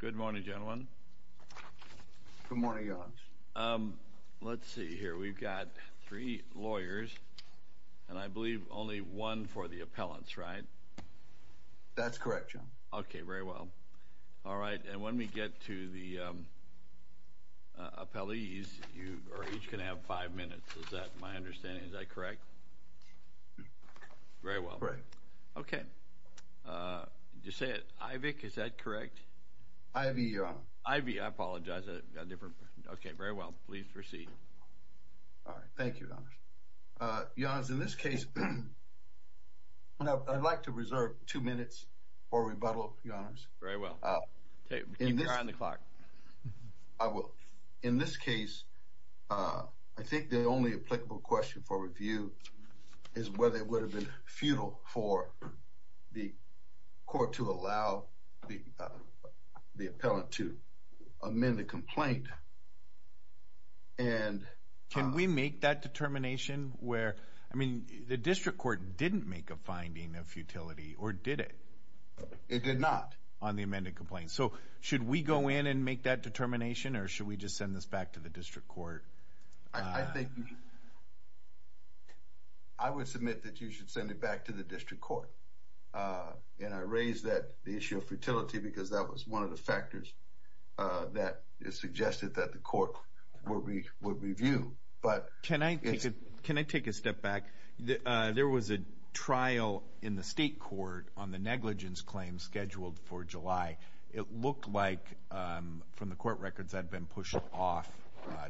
Good morning, gentlemen. Good morning. Let's see here. We've got three lawyers and I believe only one for the appellants, right? That's correct, John. Okay, very well. All right. And when we get to the appellees, you are each going to have five minutes. Is that my understanding? Is that correct? Ivy. Ivy. I apologize. A different. Okay, very well. Please proceed. All right. Thank you, Your Honor. Your Honor, in this case, I'd like to reserve two minutes for rebuttal, Your Honor. Very well. Keep your eye on the clock. I will. In this case, I think the only applicable question for review is whether it would have been futile for the court to allow the the appellant to amend the complaint and can we make that determination where I mean the district court didn't make a finding of futility or did it it did not on the amended complaint so should we go in and make that determination or should we just send this back to the district court I think I would submit that you should send it back to the district court and I raise that the issue of futility because that was one of the factors that is suggested that the court will be would review but can I take it can I take a step back there was a trial in the state court on the negligence claim scheduled for July it looked like from the court records had been pushed off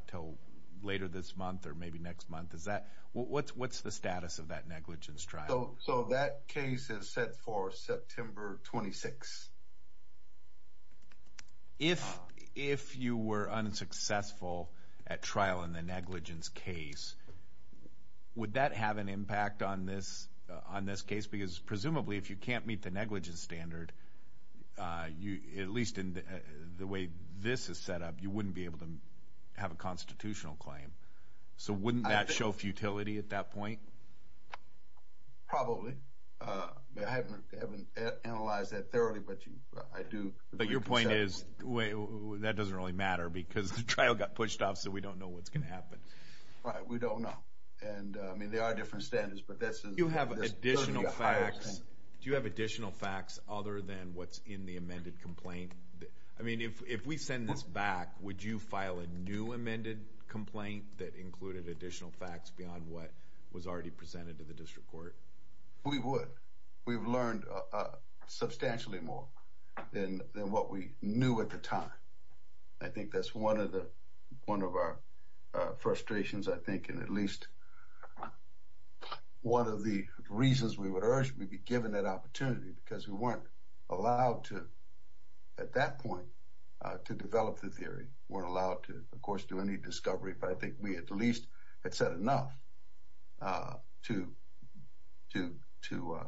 till later this month or maybe next month is that what's what's the status of that negligence trial so that case is set for September 26th if if you were unsuccessful at trial in the negligence case would that have an impact on this on this case because presumably if you can't meet the negligence standard uh you at least in the way this is set up you wouldn't be able to have a constitutional claim so wouldn't that show futility at that point probably uh I haven't haven't analyzed that thoroughly but you I do but your point is that doesn't really matter because the trial got pushed off so we don't know what's going to happen right we don't know and I mean there are different standards but this is you have additional facts do you have additional facts other than what's in the amended complaint I mean if if we send this back would you file a new amended complaint that included additional facts beyond what was already presented to the district court we would we've learned uh substantially more than than what we knew at the time I think that's one of the one of our uh frustrations I think and at least one of the reasons we would urge we'd be given that opportunity because we weren't allowed to at that point uh to develop the theory weren't allowed to of course do any discovery but I think we at least had said enough uh to to to uh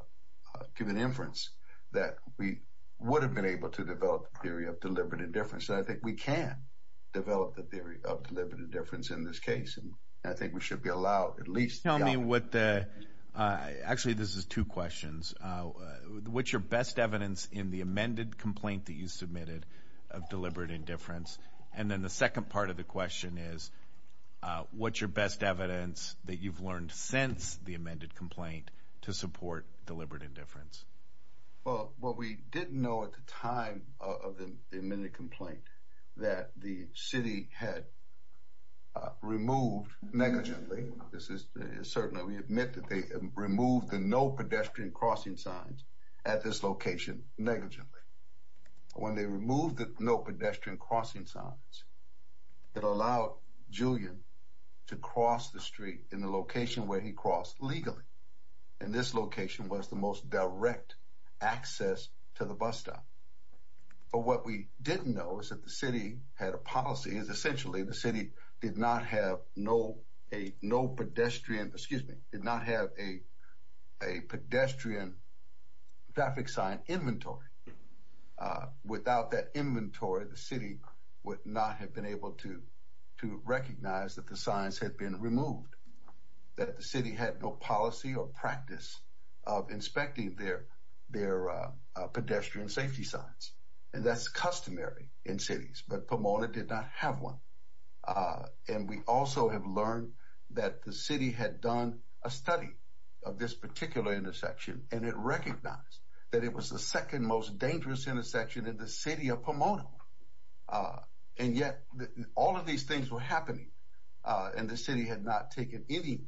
give an inference that we would have been able to develop the theory of deliberate indifference I think we can develop the theory of deliberate indifference in this case and I think we should be allowed at least tell me what the uh actually this is two questions uh what's your best evidence in the amended complaint that you submitted of deliberate indifference and then the second part of the question is uh what's your best evidence that you've learned since the amended complaint to support deliberate indifference well what we didn't know at the time of the amended complaint that the city had uh removed negligently this is certainly we admit that they removed the no pedestrian crossing signs at this location negligently when they removed the no pedestrian crossing signs it allowed Julian to cross the street in the location where he crossed legally and this location was the most direct access to the bus stop but what we didn't know is that the city had a policy is essentially the city did not have no a no pedestrian excuse me did not have a a pedestrian traffic sign inventory uh without that inventory the city would not have been able to to recognize that the signs had been removed that the city had no policy or practice of inspecting their their uh pedestrian safety signs and that's customary in cities but Pomona did not have one uh and we also have learned that the city had done a study of this particular intersection and it recognized that it was the second most dangerous intersection in the city of all of these things were happening uh and the city had not taken any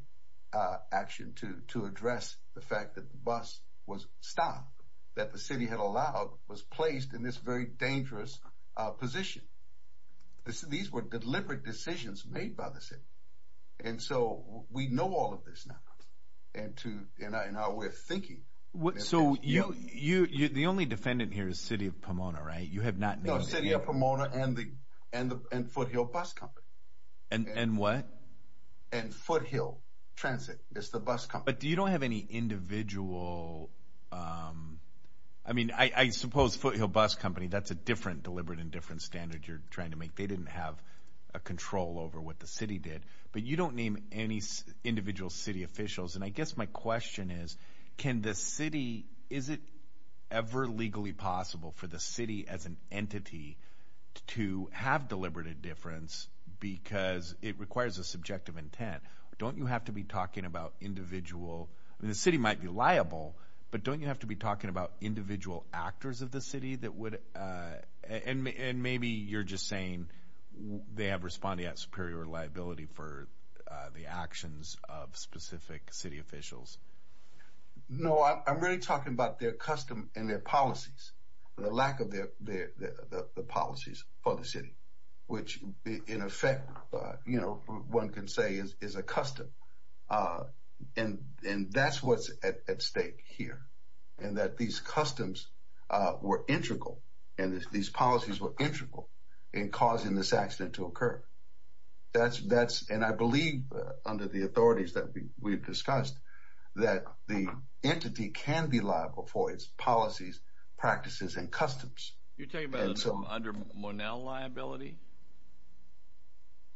uh action to to address the fact that the bus was stopped that the city had allowed was placed in this very dangerous uh position these were deliberate decisions made by the city and so we know all of this now and to in our way of thinking what so you you you're the only defendant here is city of Pomona right you have not no city of Pomona and the and the and foothill bus company and and what and foothill transit it's the bus company but you don't have any individual um i mean i i suppose foothill bus company that's a different deliberate and different standard you're trying to make they didn't have a control over what the city did but you don't name any individual city officials and my question is can the city is it ever legally possible for the city as an entity to have deliberate a difference because it requires a subjective intent don't you have to be talking about individual i mean the city might be liable but don't you have to be talking about individual actors of the city that would uh and and maybe you're just saying they have responded superior liability for uh the actions of specific city officials no i'm really talking about their custom and their policies the lack of their their the policies for the city which in effect uh you know one can say is is a custom uh and and that's what's at stake here and that these customs uh were integral and these policies were integral in causing this accident to occur that's that's and i believe under the authorities that we've discussed that the entity can be liable for its policies practices and customs you're talking about under monel liability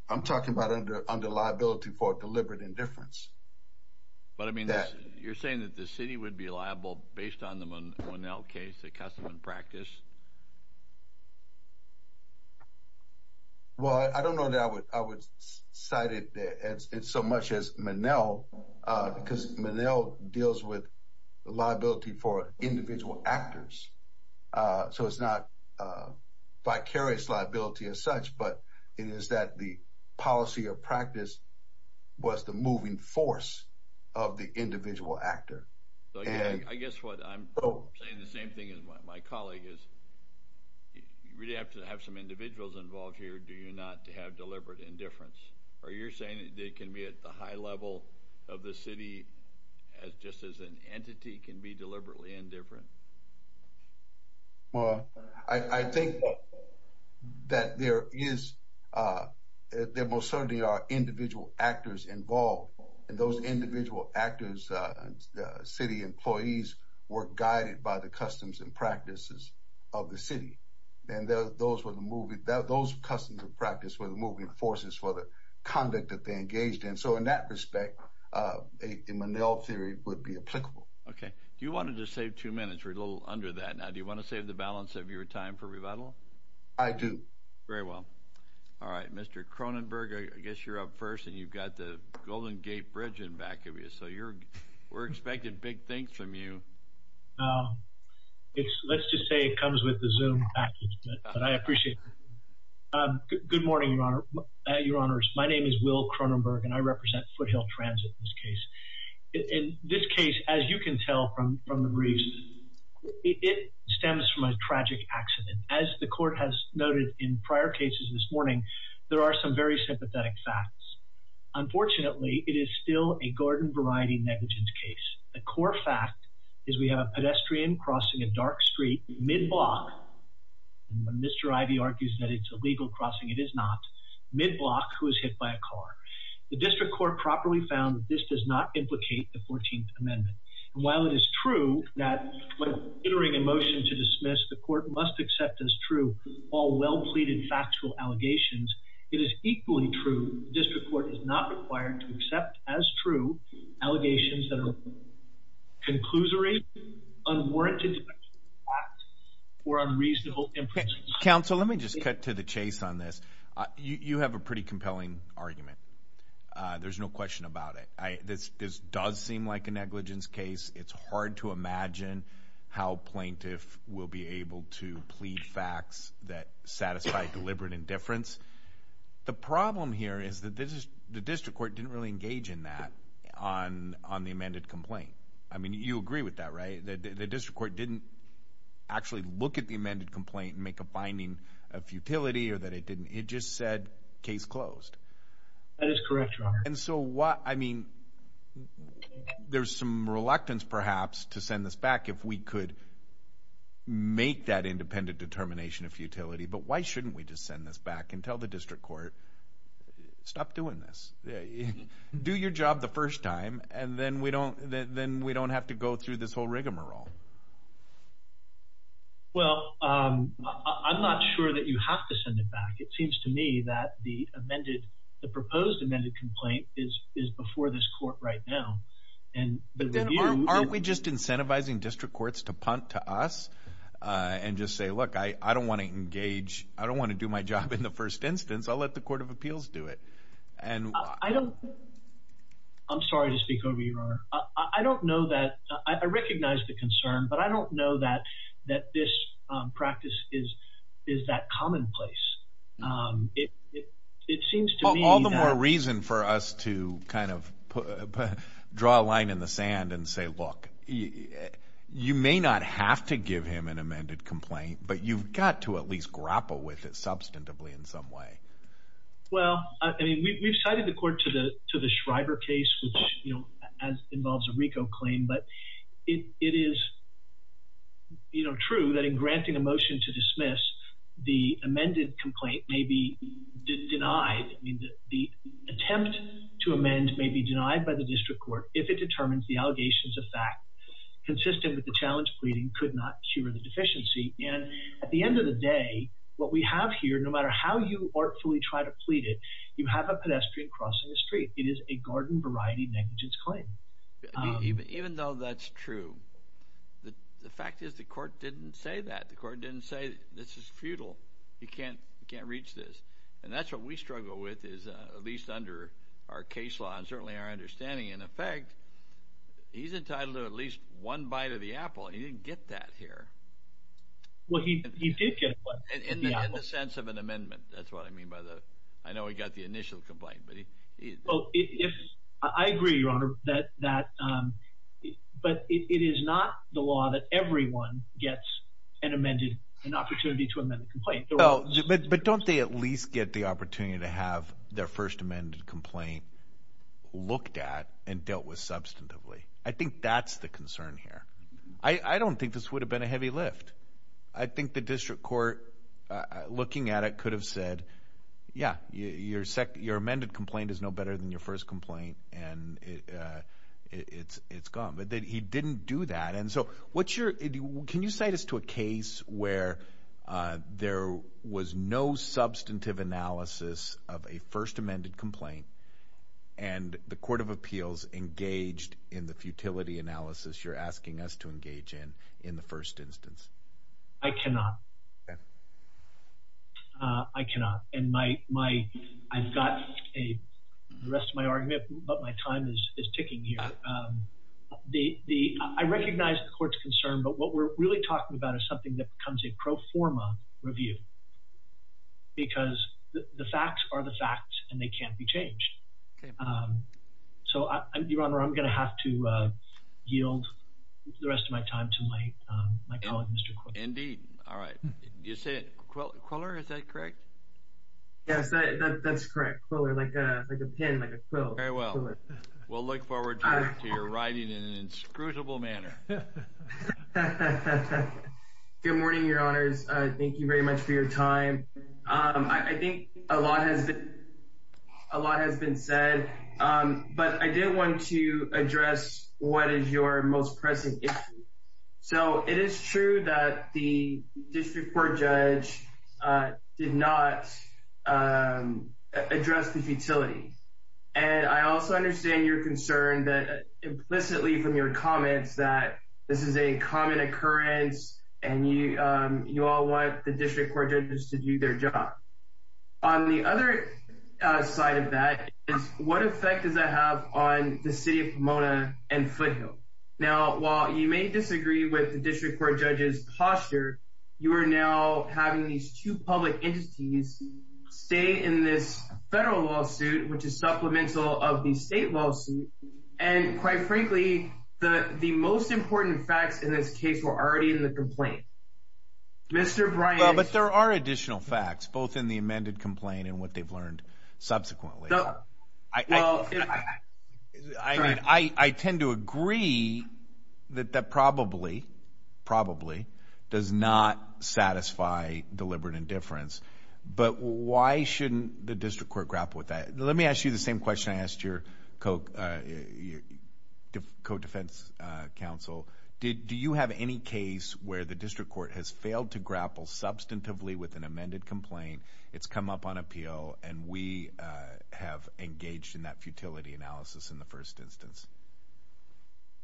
i'm talking about under under liability for deliberate indifference but i mean you're saying that the city would be liable based on the monel case the custom practice well i don't know that i would i would cite it as it's so much as monel uh because monel deals with liability for individual actors uh so it's not uh vicarious liability as such but it is that the policy or practice was the moving force of the individual actor so yeah i guess what i'm saying the same thing as my colleague is you really have to have some individuals involved here do you not have deliberate indifference are you're saying it can be at the high level of the city as just as an entity can be deliberately indifferent well i i think that there is uh there most certainly are individual actors involved and those individual actors uh city employees were guided by the customs and practices of the city and those were the movie that those customs of practice were the moving forces for the conduct that they engaged in so in that respect uh a monel theory would be applicable okay do you want to just save two minutes we're a little under that now do you want to save the balance of your time for rebuttal i do very well all right mr cronenberg i guess you're up first and you've got the golden gate bridge in back of you so you're we're expecting big things from you uh it's let's just say it comes with the zoom package but i appreciate it um good morning your honor your honors my name is will cronenberg and i represent foothill transit in this case in this case as you can tell from from the briefs it stems from a tragic accident as the court has noted in prior cases this morning there are some very sympathetic facts unfortunately it is still a garden variety negligence case the core fact is we have a pedestrian crossing a dark street mid-block and when mr ivy argues that it's a legal crossing it is not mid-block who is hit by a car the district court properly found that this does not implicate the 14th amendment and while it is true that when considering a motion to dismiss the court must accept as true all well pleaded factual allegations it is equally true district court is not required to accept as true allegations that are conclusory unwarranted or unreasonable counsel let me just cut to the chase on this you you have a pretty compelling argument uh there's no question about it i this this does seem like a negligence case it's hard to imagine how plaintiff will be able to plead facts that satisfy deliberate indifference the problem here is that this is the district court didn't really engage in that on on the amended complaint i mean you agree with that right the district court didn't actually look at the amended complaint and make a finding of futility or that it didn't it just said case closed that is correct and so what i mean there's some reluctance perhaps to send this back if we could make that independent determination of futility but why shouldn't we just send this back and tell the district court stop doing this do your job the first time and then we don't then we don't have to go through this whole rigmarole well um i'm not sure that you have to send it back seems to me that the amended the proposed amended complaint is is before this court right now and but then aren't we just incentivizing district courts to punt to us uh and just say look i i don't want to engage i don't want to do my job in the first instance i'll let the court of appeals do it and i don't i'm sorry to speak over your honor i don't know that i recognize the concern but i it it seems to me all the more reason for us to kind of put draw a line in the sand and say look you may not have to give him an amended complaint but you've got to at least grapple with it substantively in some way well i mean we've cited the court to the to the schreiber case which you know as involves a rico claim but it it is you know true that in granting a motion to dismiss the amended complaint may be denied i mean the attempt to amend may be denied by the district court if it determines the allegations of fact consistent with the challenge pleading could not cure the deficiency and at the end of the day what we have here no matter how you artfully try to plead it you have a pedestrian crossing the street it is a garden variety negligence claim even though that's true the the fact is the court didn't say that the court didn't say this is futile you can't you can't reach this and that's what we struggle with is uh at least under our case law and certainly our understanding in effect he's entitled to at least one bite of the apple he didn't get that here well he he did get in the sense of an amendment that's what i mean by the i know he got the initial complaint but he oh if i agree your honor that that um but it is not the law that everyone gets an amended an opportunity to amend the complaint but don't they at least get the opportunity to have their first amended complaint looked at and dealt with substantively i think that's the concern here i i don't think this would have been a heavy lift i think the district court looking at it could have said yeah your sec your amended complaint is no better than your first complaint and it uh it's it's gone but then he didn't do that and so what's your can you cite us to a case where uh there was no substantive analysis of a first amended complaint and the court of appeals engaged in the futility analysis you're asking us to engage in in the first instance i cannot uh i cannot and my my i've got a the rest of my argument but my time is is ticking here um the the i recognize the court's concern but what we're really talking about is something that becomes a pro forma review because the facts are the facts and they can't be changed um so i'm your honor i'm gonna have to uh yield the rest of my time to my um my colleague mr indeed all right you said quiller is that correct yes that that's correct quiller like a like a pen like a quilt very well we'll look forward to your writing in an inscrutable manner good morning your honors uh thank you very much for your time um i think a lot has been a lot has been said um but i did want to address what is your most pressing issue so it is true that the district court judge uh did not um address the futility and i also understand your concern that implicitly from your comments that this is a common occurrence and you um you all want the district court judges to do their job on the other side of that is what effect does that have on the city of pomona and foothill now while you may disagree with the district court judge's posture you are now having these two public entities stay in this federal lawsuit which is supplemental of the state lawsuit and quite frankly the the most important facts in this case were already in the complaint mr brian but there are additional facts both in the amended complaint and what they've learned subsequently i mean i i tend to agree that that probably probably does not satisfy deliberate indifference but why shouldn't the district court grapple with that let me ask you the same question i asked your coke uh your co-defense uh council did do you have any case where the district court has failed to grapple substantively with an amended complaint it's come up on appeal and we have engaged in that futility analysis in the first instance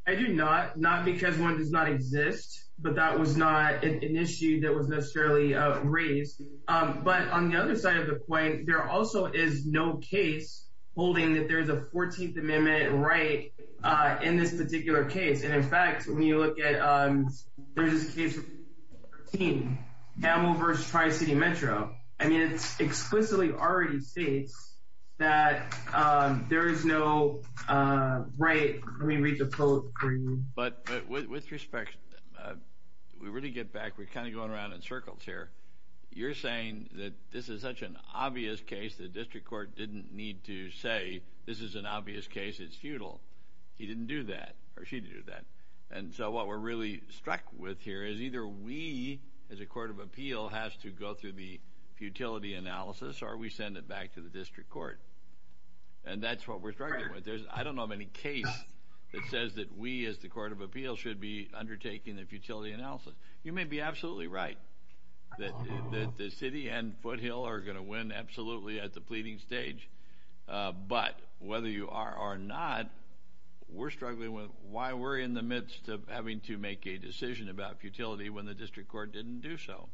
i do not not because one does not exist but that was not an issue that was necessarily uh raised um but on the other side of the point there also is no case holding that there's a 14th amendment right uh in this particular case and in fact when you look at um there's this case 13 camel versus tri-city metro i mean it's explicitly already states that um there is no uh right let me read the quote but with respect we really get back we're kind of going around in circles here you're saying that this is such an obvious case the district court didn't need to say this is an obvious case it's futile he didn't do that or she did that and so what we're really struck with here is either we as a court of appeal has to go through the futility analysis or we send it back to the district court and that's what we're struggling with there's i don't know of any case that says that we as the court of appeal should be undertaking the futility analysis you may be absolutely right that the city and foothill are going to win absolutely at the pleading stage uh but whether you are or not we're struggling with why we're in the midst of having to make a decision about futility when the district court didn't do so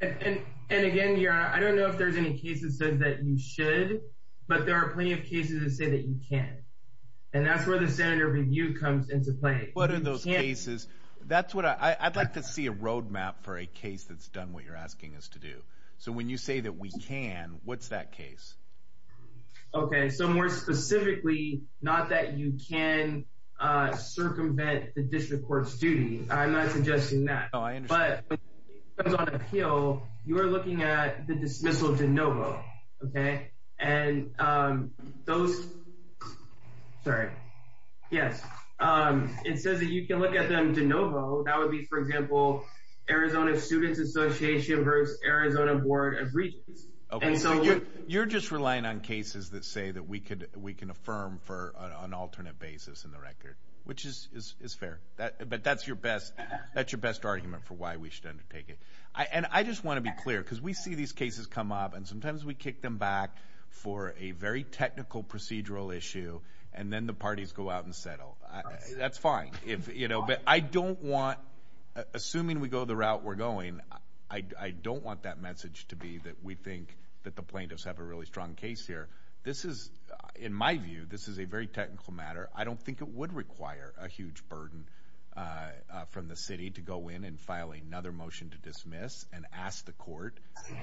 and and again i don't know if there's any cases that you should but there are plenty of cases that say that you can't and that's where the senator review comes into play but in those cases that's what i i'd like to see a roadmap for a case that's done what you're asking us to do so when you say that we can what's that case okay so more specifically not that you can uh circumvent the district court's duty i'm not suggesting that oh i understand but on appeal you are looking at the dismissal de novo okay and um those sorry yes um it says that you can look at them de novo that would be for example arizona students association versus arizona board of regents okay so you're just relying on cases that say that we could we can affirm for an alternate basis in the record which is is fair that but that's your best that's your best argument for why we should undertake it i and i just want to be clear because we see these cases come up and sometimes we kick them back for a very technical procedural issue and then the parties go out and settle that's fine if you know but i don't want assuming we go the route we're going i i don't want that message to be that we think that the plaintiffs have a really strong case here this is in my view this is a very technical matter i don't think it would require a huge burden uh from the city to go in and file another motion to dismiss and ask the court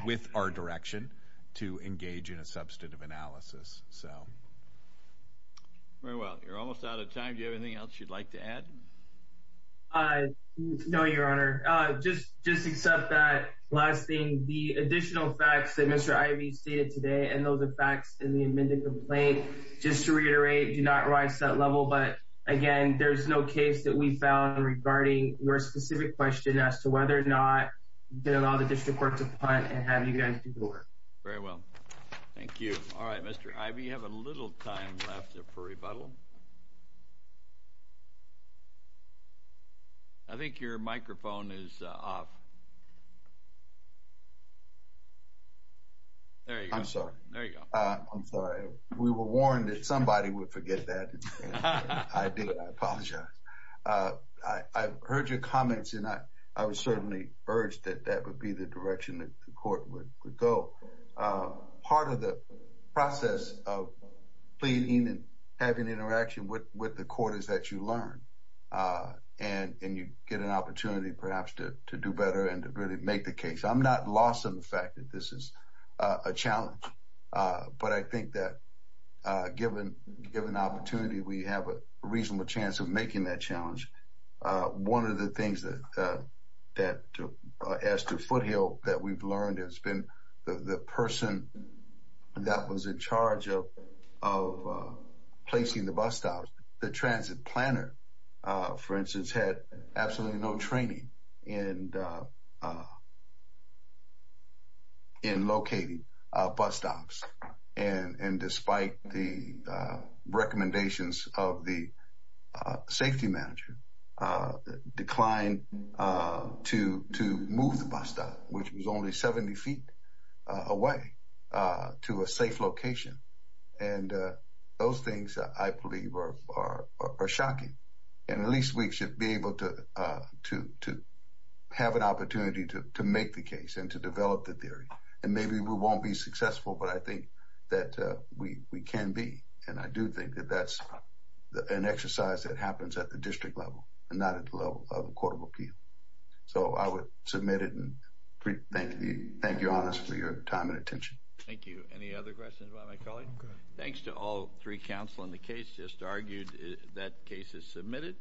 with our direction to engage in a substantive analysis so very well you're almost out of time do you have anything else you'd like to add uh no your honor uh just just accept that last thing the additional facts that mr ivy stated today and those effects in the amended complaint just to reiterate do not rise to that level but again there's no case that we found regarding your specific question as to whether or not did all the district court to find and have you guys do the work very well thank you all right mr ivy you have a little time left for rebuttal i think your microphone is off there you go i'm sorry there you go uh i'm sorry we were warned that somebody would forget that i did i apologize uh i i've heard your comments and i i would certainly urge that that would be the direction that the court would would go uh part of the process of pleading and having interaction with with the court is that you learn uh and and you get an opportunity perhaps to to do better and to really make the case i'm not lost on the fact that this is a challenge uh but i think that uh given given opportunity we have a reasonable chance of making that challenge uh one of the things that uh that as to foothill that we've learned has been the the person that was in charge of of uh placing the bus stops the transit planner uh for instance had absolutely no training in uh uh in locating uh bus stops and and despite the uh recommendations of the uh safety manager uh declined uh to to move the bus stop which was only 70 feet away uh to a safe location and uh those things i believe are are are shocking and at least we should be able to uh to to have an opportunity to to make the case and to develop the theory and maybe we won't be successful but i think that uh we we can be and i do think that that's an exercise that happens at the district level and not at the level of the court of appeal so i would submit it and thank you thank you honest for your time and attention thank you any other questions about my colleague thanks to all three counsel in the case just argued that case is submitted